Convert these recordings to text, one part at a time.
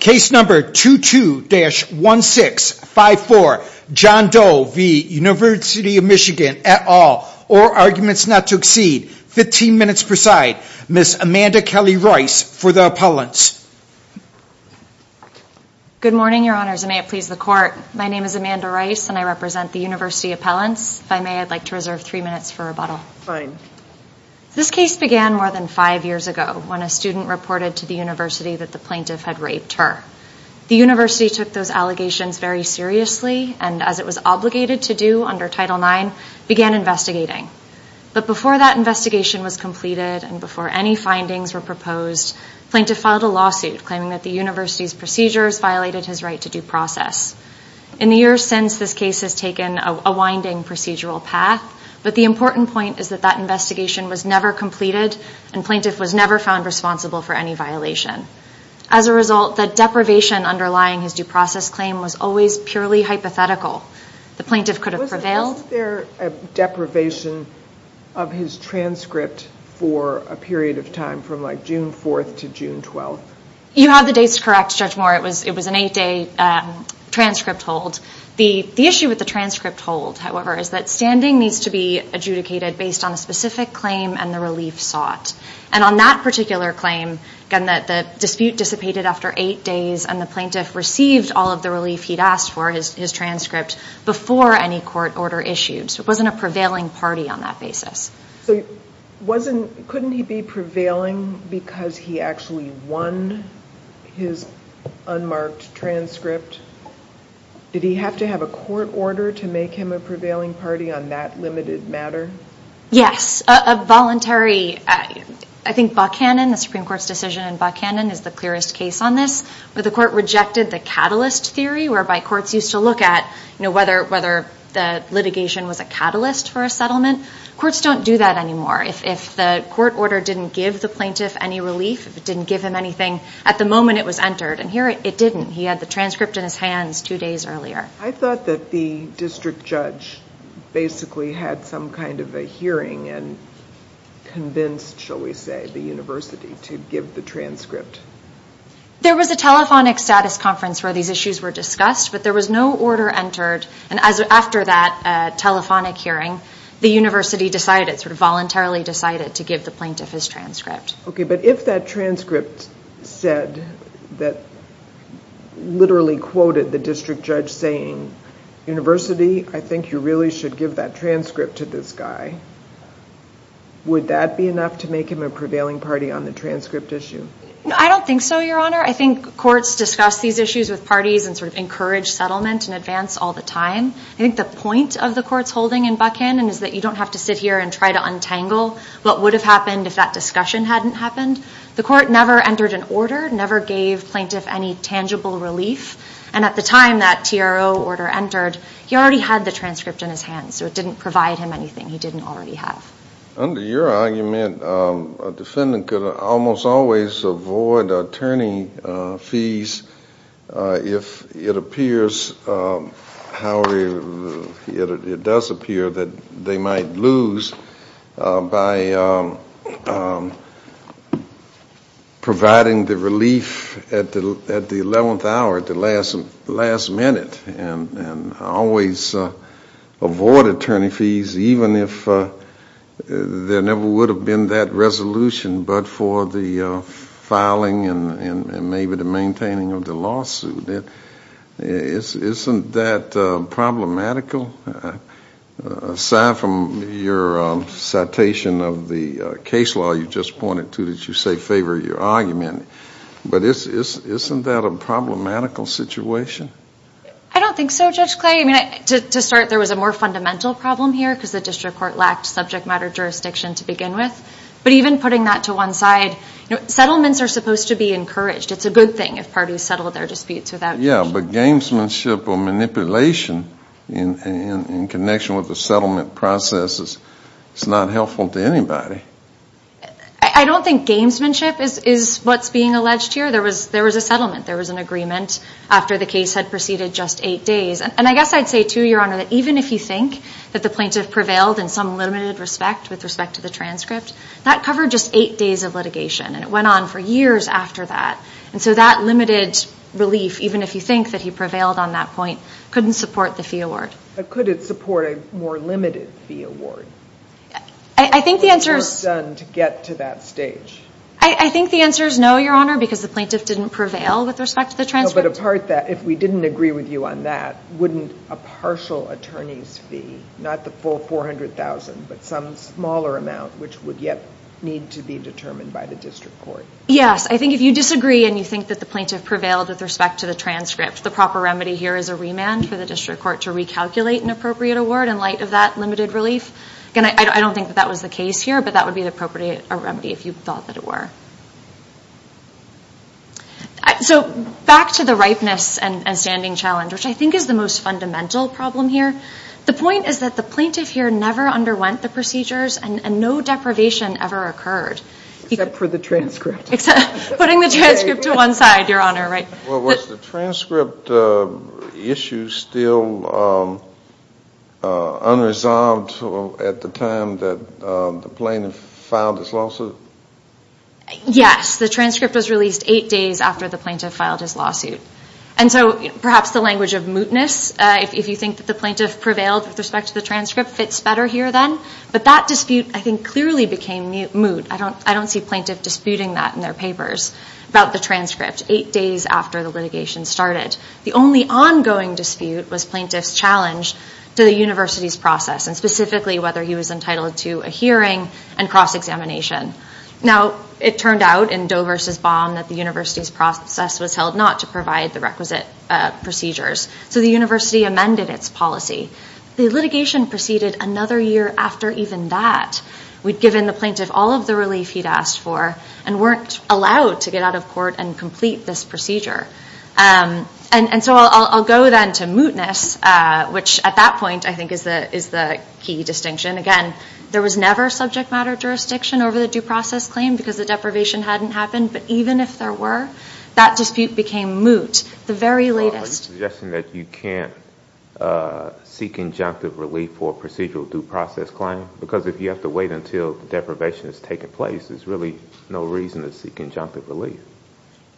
Case number 22-1654, John Doe v. University of Michigan, et al., or Arguments Not to Exceed, 15 minutes per side, Ms. Amanda Kelly Rice for the appellants. Good morning, your honors, and may it please the court. My name is Amanda Rice and I represent the University Appellants. If I may, I'd like to reserve three minutes for rebuttal. Fine. This case began more than five years ago when a plaintiff raped her. The university took those allegations very seriously and, as it was obligated to do under Title IX, began investigating. But before that investigation was completed and before any findings were proposed, plaintiff filed a lawsuit claiming that the university's procedures violated his right to due process. In the years since, this case has taken a winding procedural path, but the important point is that that investigation was never completed and plaintiff was never found responsible for any violation. As a result, the deprivation underlying his due process claim was always purely hypothetical. The plaintiff could have prevailed. Was there a deprivation of his transcript for a period of time from, like, June 4th to June 12th? You have the dates correct, Judge Moore. It was an eight-day transcript hold. The issue with the transcript hold, however, is that standing needs to be adjudicated based on a specific claim and the relief sought. And on that particular claim, again, that the dispute dissipated after eight days and the plaintiff received all of the relief he'd asked for, his transcript, before any court order issued. So it wasn't a prevailing party on that basis. So couldn't he be prevailing because he actually won his unmarked transcript? Did he have to have a court order to make him a prevailing party on that limited matter? Yes, a voluntary... I think Buchanan, the Supreme Court's decision in Buchanan, is the clearest case on this. But the court rejected the catalyst theory, whereby courts used to look at, you know, whether the litigation was a catalyst for a settlement. Courts don't do that anymore. If the court order didn't give the plaintiff any relief, if it didn't give him anything at the moment it was entered, and here it didn't. He had the transcript in his hands two days earlier. I thought that the district judge basically had some kind of a hearing and convinced, shall we say, the University to give the transcript. There was a telephonic status conference where these issues were discussed, but there was no order entered. And after that telephonic hearing, the University decided, sort of voluntarily decided, to give the plaintiff his transcript. Okay, but if that transcript said, that literally quoted the district judge saying, University, I think you really should give that transcript to this guy, would that be enough to make him a prevailing party on the transcript issue? I don't think so, Your Honor. I think courts discuss these issues with parties and sort of encourage settlement and advance all the time. I think the point of the court's holding in Buchanan is that you don't have to sit here and try to The court never entered an order, never gave plaintiff any tangible relief, and at the time that TRO order entered, he already had the transcript in his hands, so it didn't provide him anything he didn't already have. Under your argument, a defendant could almost always avoid attorney fees if it appears, however it does appear, that they might lose by providing the relief at the eleventh hour, at the last minute, and always avoid attorney fees, even if there never would have been that resolution, but for the filing and maybe the maintaining of the lawsuit, isn't that problematical? Aside from your citation of the case law you just pointed to, that you say favor your argument, but isn't that a problematical situation? I don't think so, Judge Clay. I mean, to start, there was a more fundamental problem here because the district court lacked subject matter jurisdiction to begin with, but even putting that to one side, settlements are supposed to be encouraged. It's a good thing if parties settle their disputes without... Yeah, but gamesmanship or manipulation in connection with the settlement process is not helpful to anybody. I don't think gamesmanship is what's being alleged here. There was a settlement, there was an agreement after the case had proceeded just eight days, and I guess I'd say too, Your Honor, that even if you think that the plaintiff prevailed in some limited respect, with respect to the transcript, that covered just eight days of litigation, and it went on for years after that, and so that limited relief, even if you think that he prevailed on that point, couldn't support the fee award. But could it support a more limited fee award? I think the answer is... What was done to get to that stage? I think the answer is no, Your Honor, because the plaintiff didn't prevail with respect to the transcript. But apart that, if we didn't agree with you on that, wouldn't a partial attorney's fee, not the full $400,000, but some smaller amount, which would yet need to be determined by the district court? Yes, I think if you disagree and you think that the plaintiff prevailed with respect to the transcript, the proper remedy here is a remand for the district court to recalculate an appropriate award in light of that limited relief. Again, I don't think that that was the case here, but that would be the appropriate remedy if you thought that it were. So back to the ripeness and standing challenge, which I think is the most fundamental problem here. The point is that the plaintiff here never underwent the procedures and no deprivation ever occurred. Except for the transcript. Putting the transcript to one side, Your Honor. Was the transcript issue still unresolved at the time that the plaintiff filed his lawsuit? Yes, the transcript was released eight days after the plaintiff filed his lawsuit. And so perhaps the language of mootness, if you think that the plaintiff prevailed with respect to the transcript, fits better here then. But that dispute, I think, clearly became moot. I don't see plaintiff disputing that in their papers about the transcript eight days after the litigation started. The only ongoing dispute was plaintiff's challenge to the university's process, and specifically whether he was entitled to a hearing and cross-examination. Now, it turned out in Doe versus Baum that the university's process was held not to provide the requisite procedures. So the university amended its policy. The litigation proceeded another year after even that. We'd given the plaintiff all of the relief he'd asked for and weren't allowed to get out of court and complete this procedure. And so I'll go then to mootness, which at that point I think is the is the key distinction. Again, there was never subject matter jurisdiction over the due process claim because the deprivation hadn't happened. But even if there were, that dispute became moot. The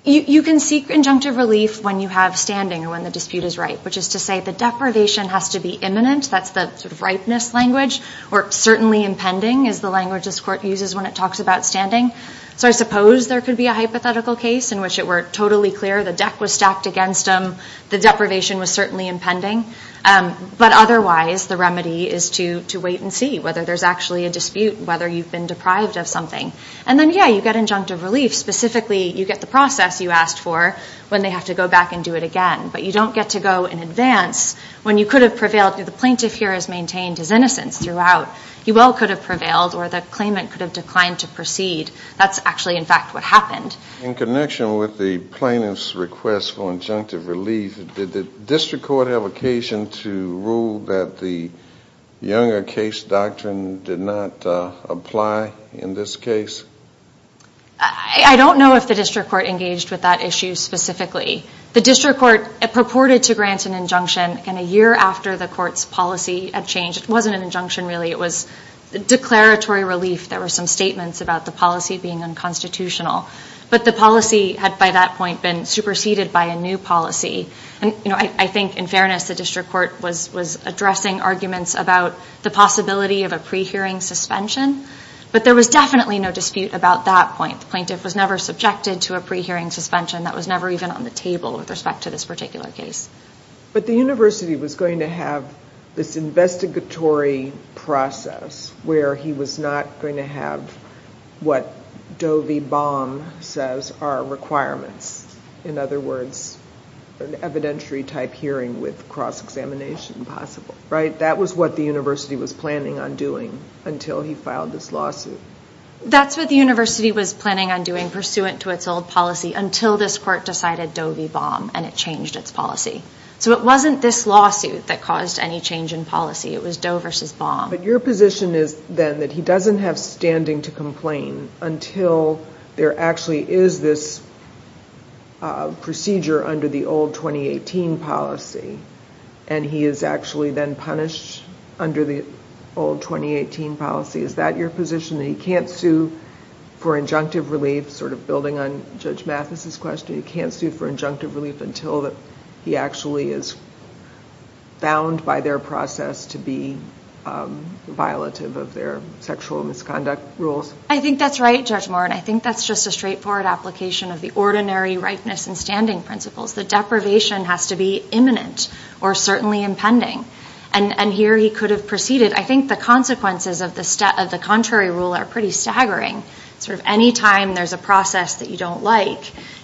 You can seek injunctive relief when you have standing or when the dispute is ripe, which is to say the deprivation has to be imminent. That's the ripeness language. Or certainly impending is the language this court uses when it talks about standing. So I suppose there could be a hypothetical case in which it were totally clear the deck was stacked against them, the deprivation was certainly impending. But otherwise, the remedy is to wait and see whether there's actually a dispute, whether you've been deprived of something. And then, yeah, you get injunctive relief. Specifically, you get the process you asked for when they have to go back and do it again. But you don't get to go in advance when you could have prevailed. The plaintiff here has maintained his innocence throughout. He well could have prevailed or the claimant could have declined to proceed. That's actually, in fact, what happened. In connection with the plaintiff's request for injunctive relief, did the district court have occasion to rule that the Younger case doctrine did not apply in this case? I don't know if the district court engaged with that issue specifically. The district court purported to grant an injunction and a year after the court's policy had changed, it wasn't an injunction really, it was declaratory relief. There were some statements about the policy being unconstitutional. But the policy had, by that point, been superseded by a new policy. And I think, in fairness, the district court was addressing arguments about the possibility of a pre-hearing suspension. But there was definitely no dispute about that point. The plaintiff was never subjected to a pre-hearing suspension. That was never even on the table with respect to this particular case. But the university was going to have this investigatory process where he was not going to have what Doe v. Baum says are requirements. In other words, an evidentiary type hearing with cross-examination possible, right? That was what the university was planning on doing until he filed this lawsuit. That's what the university was planning on doing pursuant to its old policy until this court decided Doe v. Baum and it changed its policy. So it wasn't this lawsuit that caused any change in policy, it was Doe versus Baum. But your position is then that he doesn't have standing to complain until there actually is this procedure under the old 2018 policy and he is actually then punished under the old 2018 policy. Is that your position? He can't sue for injunctive relief, sort of building on Judge Mathis's question, he can't sue for injunctive relief until that he actually is bound by their process to be violative of their sexual misconduct rules. I think that's right, Judge Moore, and I think that's just a straightforward application of the ordinary rightness and standing principles. The deprivation has to be imminent or certainly impending and here he could have proceeded. I think the consequences of the contrary rule are pretty staggering. Anytime there's a process that you don't like,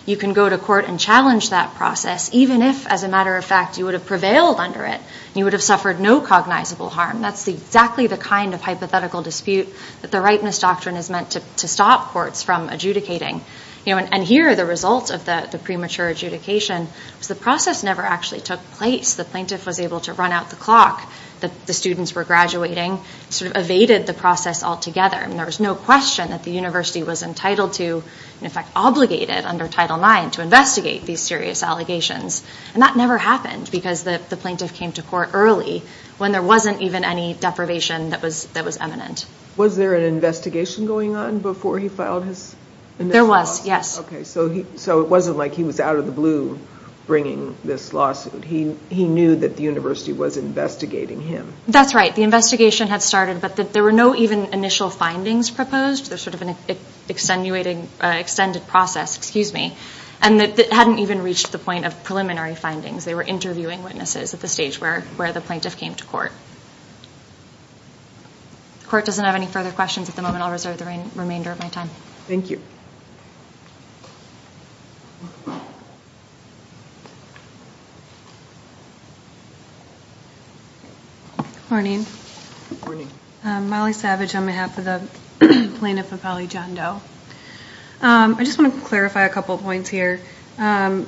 you can go to court and challenge that process even if, as a matter of fact, you would have prevailed under it. You would have suffered no cognizable harm. That's exactly the kind of hypothetical dispute that the rightness doctrine is meant to stop courts from adjudicating. And here are the results of the premature adjudication. The process never actually took place. The plaintiff was able to run out the clock that the students were graduating, sort of evaded the process altogether. There was no university was entitled to, in fact obligated under Title IX to investigate these serious allegations. And that never happened because the plaintiff came to court early when there wasn't even any deprivation that was that was eminent. Was there an investigation going on before he filed his? There was, yes. Okay, so he so it wasn't like he was out of the blue bringing this lawsuit. He knew that the university was investigating him. That's right. The investigation had findings proposed. There's sort of an extenuating, extended process, excuse me, and that hadn't even reached the point of preliminary findings. They were interviewing witnesses at the stage where where the plaintiff came to court. The court doesn't have any further questions at the moment. I'll reserve the remainder of my time. Thank you. Good morning. Molly Savage on behalf of the plaintiff of Holly John Doe. I just want to clarify a couple points here. The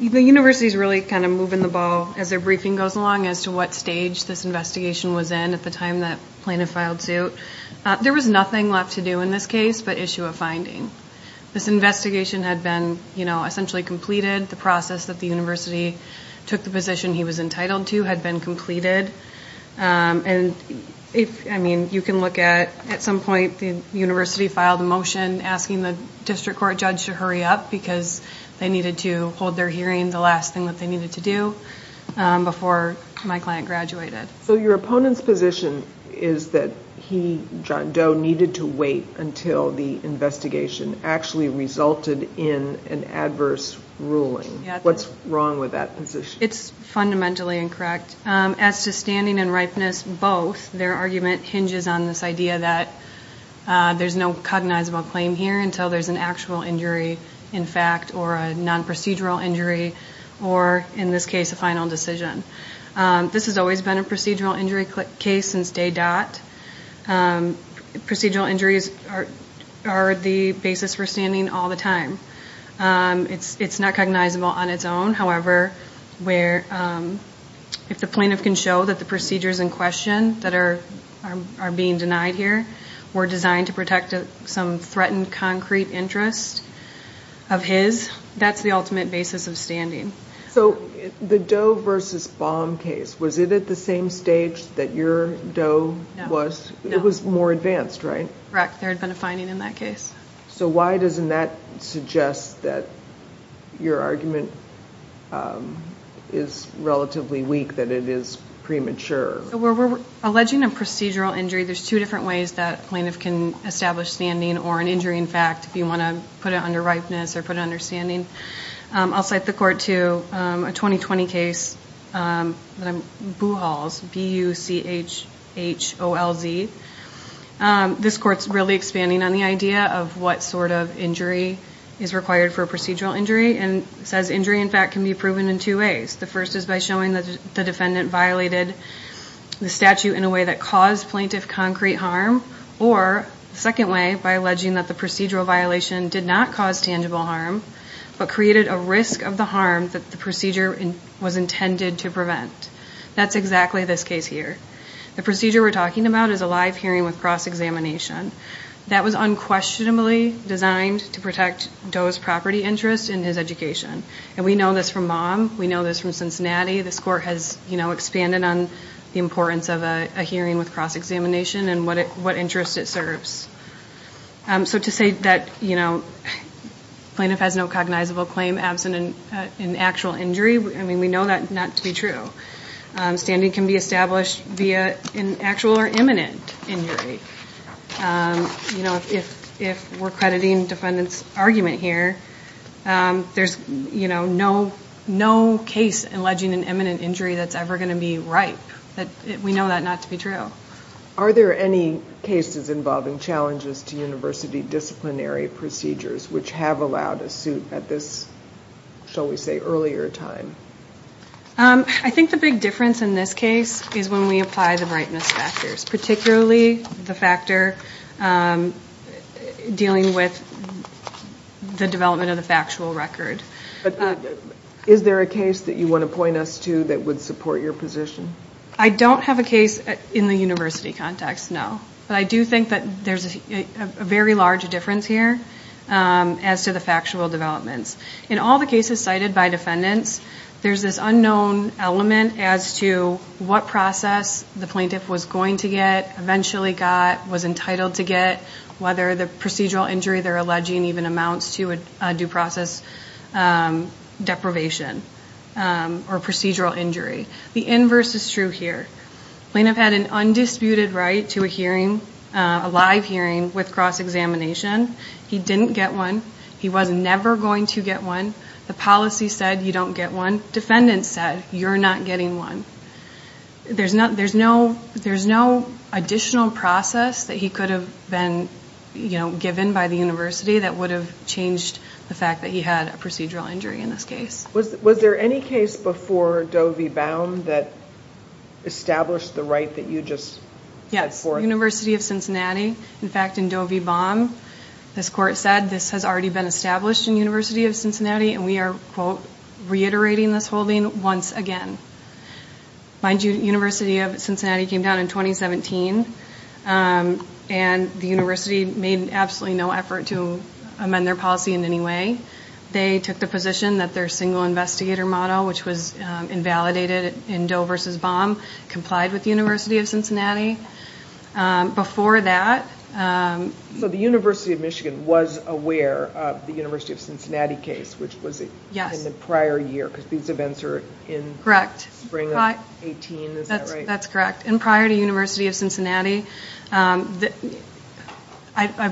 university's really kind of moving the ball as their briefing goes along as to what stage this investigation was in at the time that plaintiff filed suit. There was nothing left to do in this case but issue a finding. This investigation had been, you know, essentially completed. The process that the university took the position he was entitled to had been completed. And if, I mean, you can look at at some point the university filed a motion asking the district court judge to hurry up because they needed to hold their hearing the last thing that they needed to do before my client graduated. So your opponent's position is that he, John Doe, needed to wait until the investigation actually resulted in an adverse ruling. What's wrong with that position? It's fundamentally incorrect. As to standing and ripeness both, their argument hinges on this idea that there's no cognizable claim here until there's an actual injury in fact or a non-procedural injury or in this case a final decision. This has always been a procedural injury case since day dot. Procedural injuries are the basis for standing all the time. It's not cognizable on its own, however, where if the plaintiff can show that the procedures in question that are being denied here were designed to protect some threatened concrete interest of his, that's the ultimate basis of standing. So the Doe versus Baum case, was it at the same stage that your Doe was? It was more advanced, right? Correct, there had been a finding in that case. So why doesn't that suggest that your argument is relatively weak, that it is premature? We're alleging a procedural injury. There's two different ways that plaintiff can establish standing or an injury in fact if you want to put it under ripeness or understanding. I'll cite the court to a 2020 case, Buchholz, B-U-C-H-H-O-L-Z. This court's really expanding on the idea of what sort of injury is required for a procedural injury and says injury in fact can be proven in two ways. The first is by showing that the defendant violated the statute in a way that caused plaintiff concrete harm or second way by alleging that the procedural violation did not cause tangible harm but created a risk of the harm that the procedure was intended to prevent. That's exactly this case here. The procedure we're talking about is a live hearing with cross-examination. That was unquestionably designed to protect Doe's property interest in his education and we know this from mom, we know this from Cincinnati, this court has you know expanded on the importance of a hearing with cross-examination and what interest it serves. So to say that you know plaintiff has no cognizable claim absent an actual injury, I mean we know that not to be true. Standing can be established via an actual or imminent injury. You know if we're crediting defendants argument here, there's you know no case alleging an imminent injury that's ever going to be right. We know that not to be true. Are there any cases involving challenges to university disciplinary procedures which have allowed a suit at this, shall we say, earlier time? I think the big difference in this case is when we apply the brightness factors, particularly the factor dealing with the development of the factual record. Is there a case that you want to point us to that would support your position? I don't have a university context, no. But I do think that there's a very large difference here as to the factual developments. In all the cases cited by defendants, there's this unknown element as to what process the plaintiff was going to get, eventually got, was entitled to get, whether the procedural injury they're alleging even amounts to a due process deprivation or procedural injury. The plaintiff had an undisputed right to a hearing, a live hearing, with cross-examination. He didn't get one. He was never going to get one. The policy said you don't get one. Defendants said you're not getting one. There's no additional process that he could have been, you know, given by the university that would have changed the fact that he had a procedural injury in this case. Was there any case before Doe v. Bowne that you just... Yes, University of Cincinnati. In fact, in Doe v. Bowne, this court said this has already been established in University of Cincinnati and we are quote reiterating this holding once again. Mind you, University of Cincinnati came down in 2017 and the university made absolutely no effort to amend their policy in any way. They took the position that their single investigator model, which was invalidated in Doe v. Bowne, complied with the University of Cincinnati. Before that... So the University of Michigan was aware of the University of Cincinnati case, which was in the prior year because these events are in... Correct. Spring of 18, is that right? That's correct. And prior to University of Cincinnati, I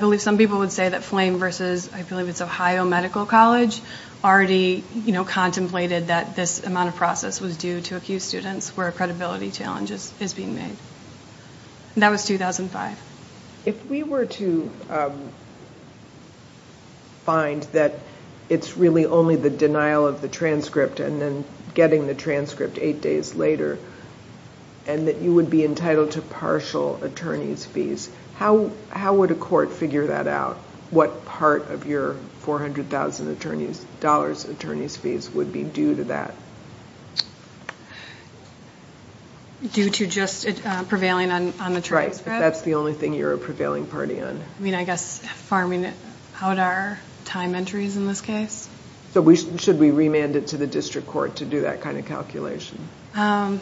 believe some people would say that Flame v. I believe it's this amount of process was due to accused students where a credibility challenge is being made. That was 2005. If we were to find that it's really only the denial of the transcript and then getting the transcript eight days later and that you would be entitled to partial attorney's fees, how would a court figure that out? What part of your $400,000 attorney's fees would be due to that? Due to just prevailing on the transcript? That's the only thing you're a prevailing party on. I mean, I guess farming out our time entries in this case? So should we remand it to the district court to do that kind of calculation? Probably.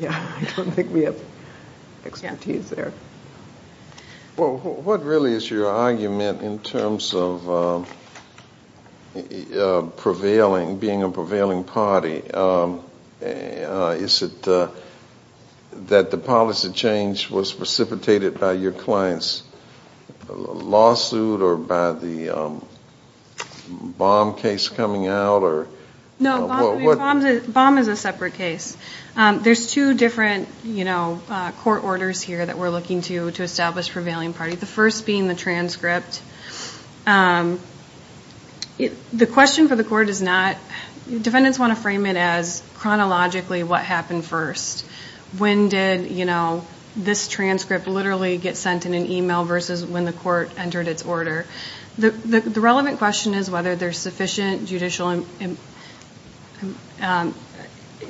Yeah, I don't think we have expertise there. Well, what really is your argument in terms of being a prevailing party? Is it that the policy change was precipitated by your client's lawsuit or by the Baum case coming out? No, Baum is a separate case. There's two different court orders here that we're looking to establish prevailing party. The first being the transcript. The question for the court is not, defendants want to frame it as chronologically what happened first. When did this transcript literally get sent in an email versus when the court entered its order? The relevant question is whether there's sufficient judicial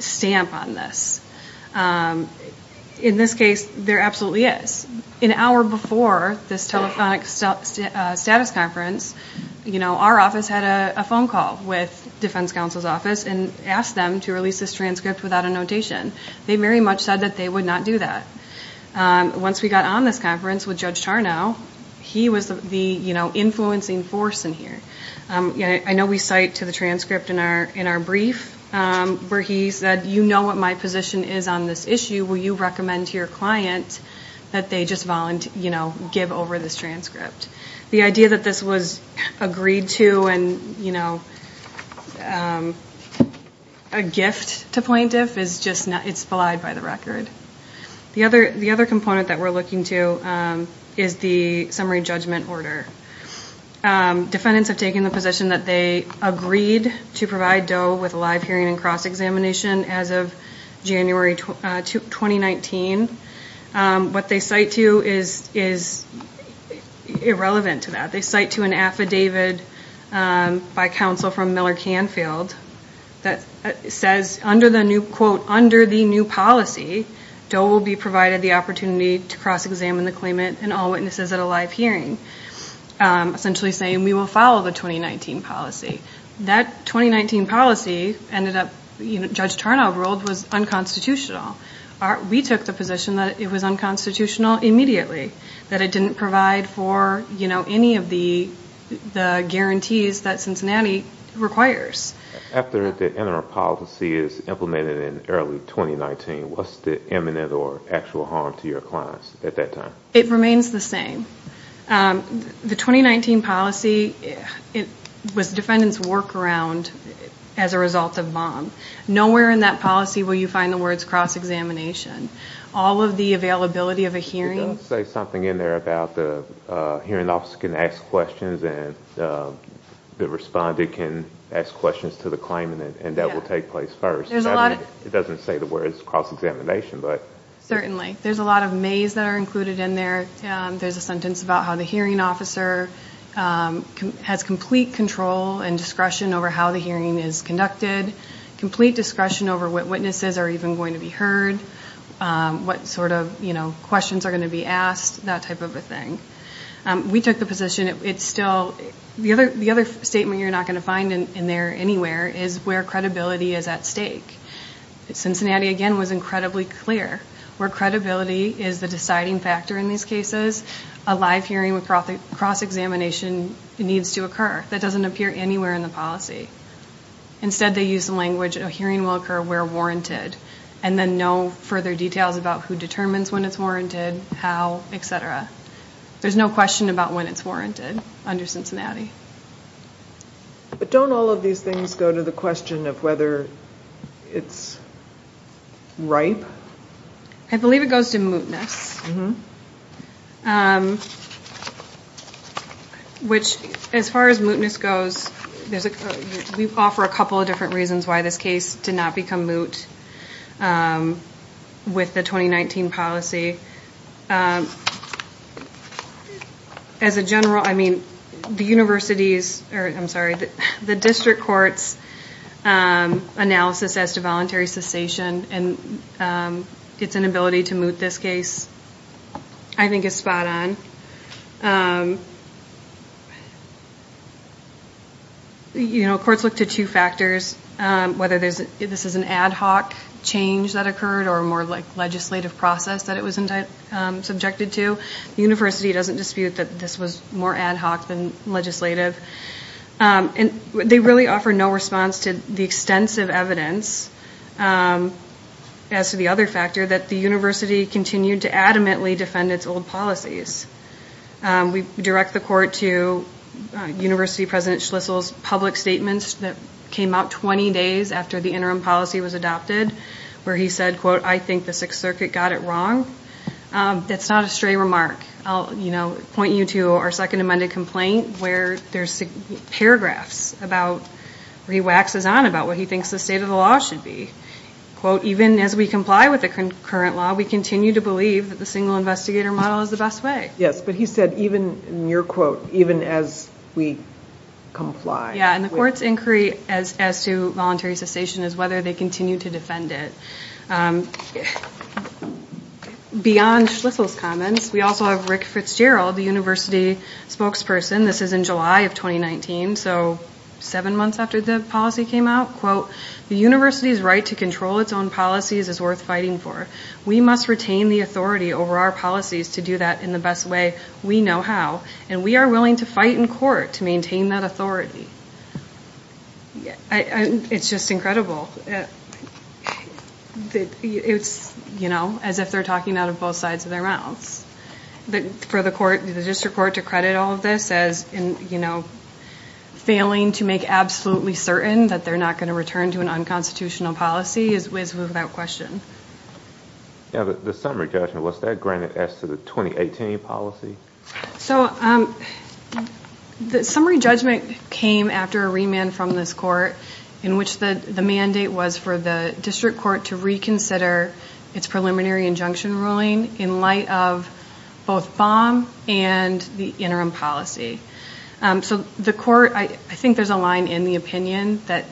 stamp on this. In this case, there absolutely is. An hour before this telephonic status conference, our office had a phone call with defense counsel's office and asked them to release this transcript without a notation. They very much said that they would not do that. Once we got on this conference with Judge Tarnow, he was the influencing force in here. I know we cite to the transcript in our brief where he said, you know what my position is on this issue. Will you recommend to your client that they just give over this transcript? The idea that this was agreed to and a gift to plaintiff is just not, it's belied by the record. The other component that we're looking to is the summary judgment order. Defendants have taken the position that they agreed to provide Doe with a live hearing and cross-examination as of January 2019. What they cite to is irrelevant to that. They cite to an affidavit by counsel from Miller Canfield that says under the new quote, under the new policy, Doe will be provided the opportunity to cross-examine the claimant and all witnesses at a live hearing. Essentially saying we will follow the 2019 policy. That 2019 policy ended up, Judge Tarnow ruled, was unconstitutional. We took the position that it was unconstitutional immediately. That it didn't provide for any of the guarantees that Cincinnati requires. After the interim policy is implemented in early 2019, what's the imminent or actual harm to your clients at that time? It remains the same. The 2019 policy, it was defendant's workaround as a result of bomb. Nowhere in that policy will you find the words cross-examination. All of the availability of a hearing. It does say something in there about the hearing officer can ask questions and the respondent can ask questions to the claimant and that will take place first. It doesn't say the words cross-examination. Certainly, there's a maze that are included in there. There's a sentence about how the hearing officer has complete control and discretion over how the hearing is conducted. Complete discretion over what witnesses are even going to be heard. What sort of questions are going to be asked. That type of a thing. We took the position, it's still, the other statement you're not going to find in there anywhere is where credibility is at stake. Cincinnati, again, was incredibly clear. Where credibility is the deciding factor in these cases, a live hearing with cross-examination needs to occur. That doesn't appear anywhere in the policy. Instead, they use the language, a hearing will occur where warranted and then no further details about who determines when it's warranted, how, etc. There's no question about when it's warranted under Cincinnati. But don't all of these things go to the question of whether it's ripe? I believe it goes to mootness. Which, as far as mootness goes, we offer a couple of different reasons why this case did not become moot with the 2019 policy. As a general, I mean, the district court's analysis as to voluntary cessation and its inability to moot this case, I think, is spot-on. You know, courts look to two factors, whether this is an ad hoc change that occurred or more like legislative process that it was subjected to. The university doesn't dispute that this was more ad hoc than We offer no response to the extensive evidence, as to the other factor, that the university continued to adamantly defend its old policies. We direct the court to University President Schlissel's public statements that came out 20 days after the interim policy was adopted, where he said, quote, I think the Sixth Circuit got it wrong. That's not a stray remark. I'll, you know, point you to our second amended complaint, where there's paragraphs about, where he waxes on about what he thinks the state of the law should be. Quote, even as we comply with the current law, we continue to believe that the single investigator model is the best way. Yes, but he said, even, in your quote, even as we comply. Yeah, and the court's inquiry as to voluntary cessation is whether they continue to defend it. Beyond Schlissel's comments, we also have Rick Fitzgerald, the university spokesperson. This is in July of 2019, so seven months after the policy came out. Quote, the university's right to control its own policies is worth fighting for. We must retain the authority over our policies to do that in the best way we know how, and we are willing to fight in court to maintain that authority. Yeah, it's just incredible. It's, you know, as if they're talking out of both sides of their mouths. But for the court, the district court to credit all of this as in, you know, failing to make absolutely certain that they're not going to return to an unconstitutional policy is without question. Yeah, but the summary judgment, what's that granted as to the 2018 policy? So, the summary judgment came after a remand from this court, in which the the mandate was for the district court to reconsider its preliminary injunction ruling in light of both Baum and the interim policy. So, the court, I think there's a line in the opinion that,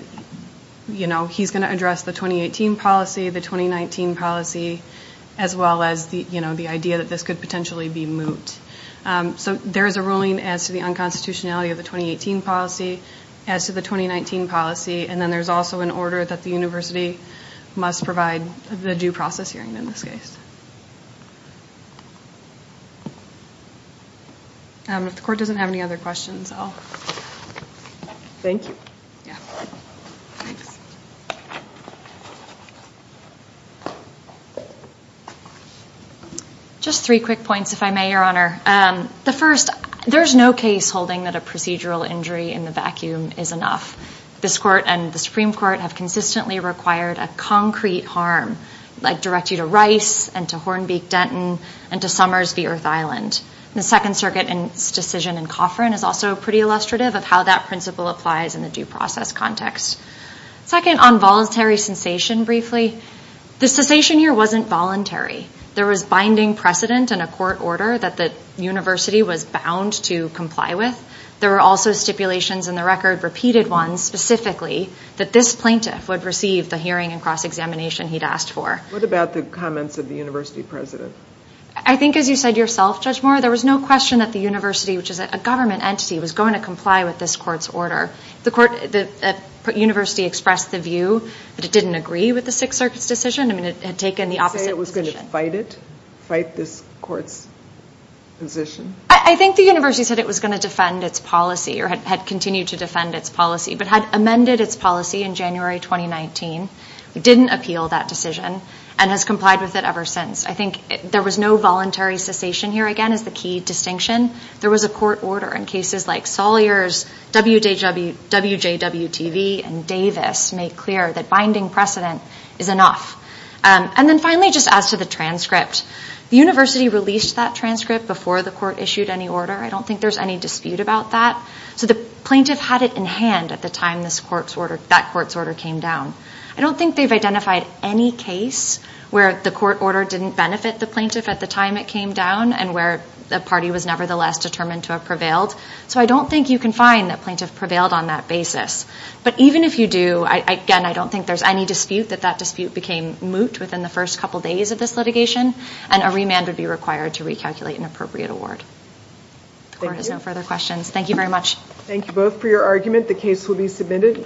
you know, he's going to address the 2018 policy, the 2019 policy, as well as the, you know, the idea that this could potentially be moot. So, there is a ruling as to the unconstitutionality of the 2018 policy, as to the 2019 policy, and then there's also an order that the university must provide the due process hearing in this case. If the court doesn't have any other questions, I'll... Thank you. Just three quick points, if I may, Your Honor. The first, there's no case holding that a procedural injury in the vacuum is enough. This court and the Supreme Court have consistently required a concrete harm, like direct you to Rice and to Hornbeak Denton and to Summers v. Earth Island. The Second Circuit and its decision in Coffrin is also pretty illustrative of how that principle applies in the due process context. Second, on voluntary cessation, briefly, the cessation here wasn't voluntary. There was binding precedent in a court order that the university was bound to comply with. There were also stipulations in the record, repeated ones specifically, that this plaintiff would receive the hearing and cross-examination he'd asked for. What about the comments of the university president? I think, as you said yourself, Judge Moore, there was no question that the university, which is a government entity, was going to comply with this court's order. The court, the university expressed the view, but it didn't agree with the Sixth Circuit's decision. I mean, it had taken the opposite position. You say it was I think the university said it was going to defend its policy or had continued to defend its policy, but had amended its policy in January 2019. It didn't appeal that decision and has complied with it ever since. I think there was no voluntary cessation here, again, is the key distinction. There was a court order in cases like Sawyer's, WJW TV, and Davis make clear that binding precedent is enough. And then finally, just as to the transcript, the university released that transcript before the court issued any order. I don't think there's any dispute about that. So the plaintiff had it in hand at the time this court's order, that court's order came down. I don't think they've identified any case where the court order didn't benefit the plaintiff at the time it came down and where the party was nevertheless determined to have prevailed. So I don't think you can find that plaintiff prevailed on that basis. But even if you do, again, I don't think there's any dispute that that dispute became moot within the first couple days of this litigation and a plaintiff would be required to recalculate an appropriate award. The court has no further questions. Thank you very much. Thank you both for your argument. The case will be submitted.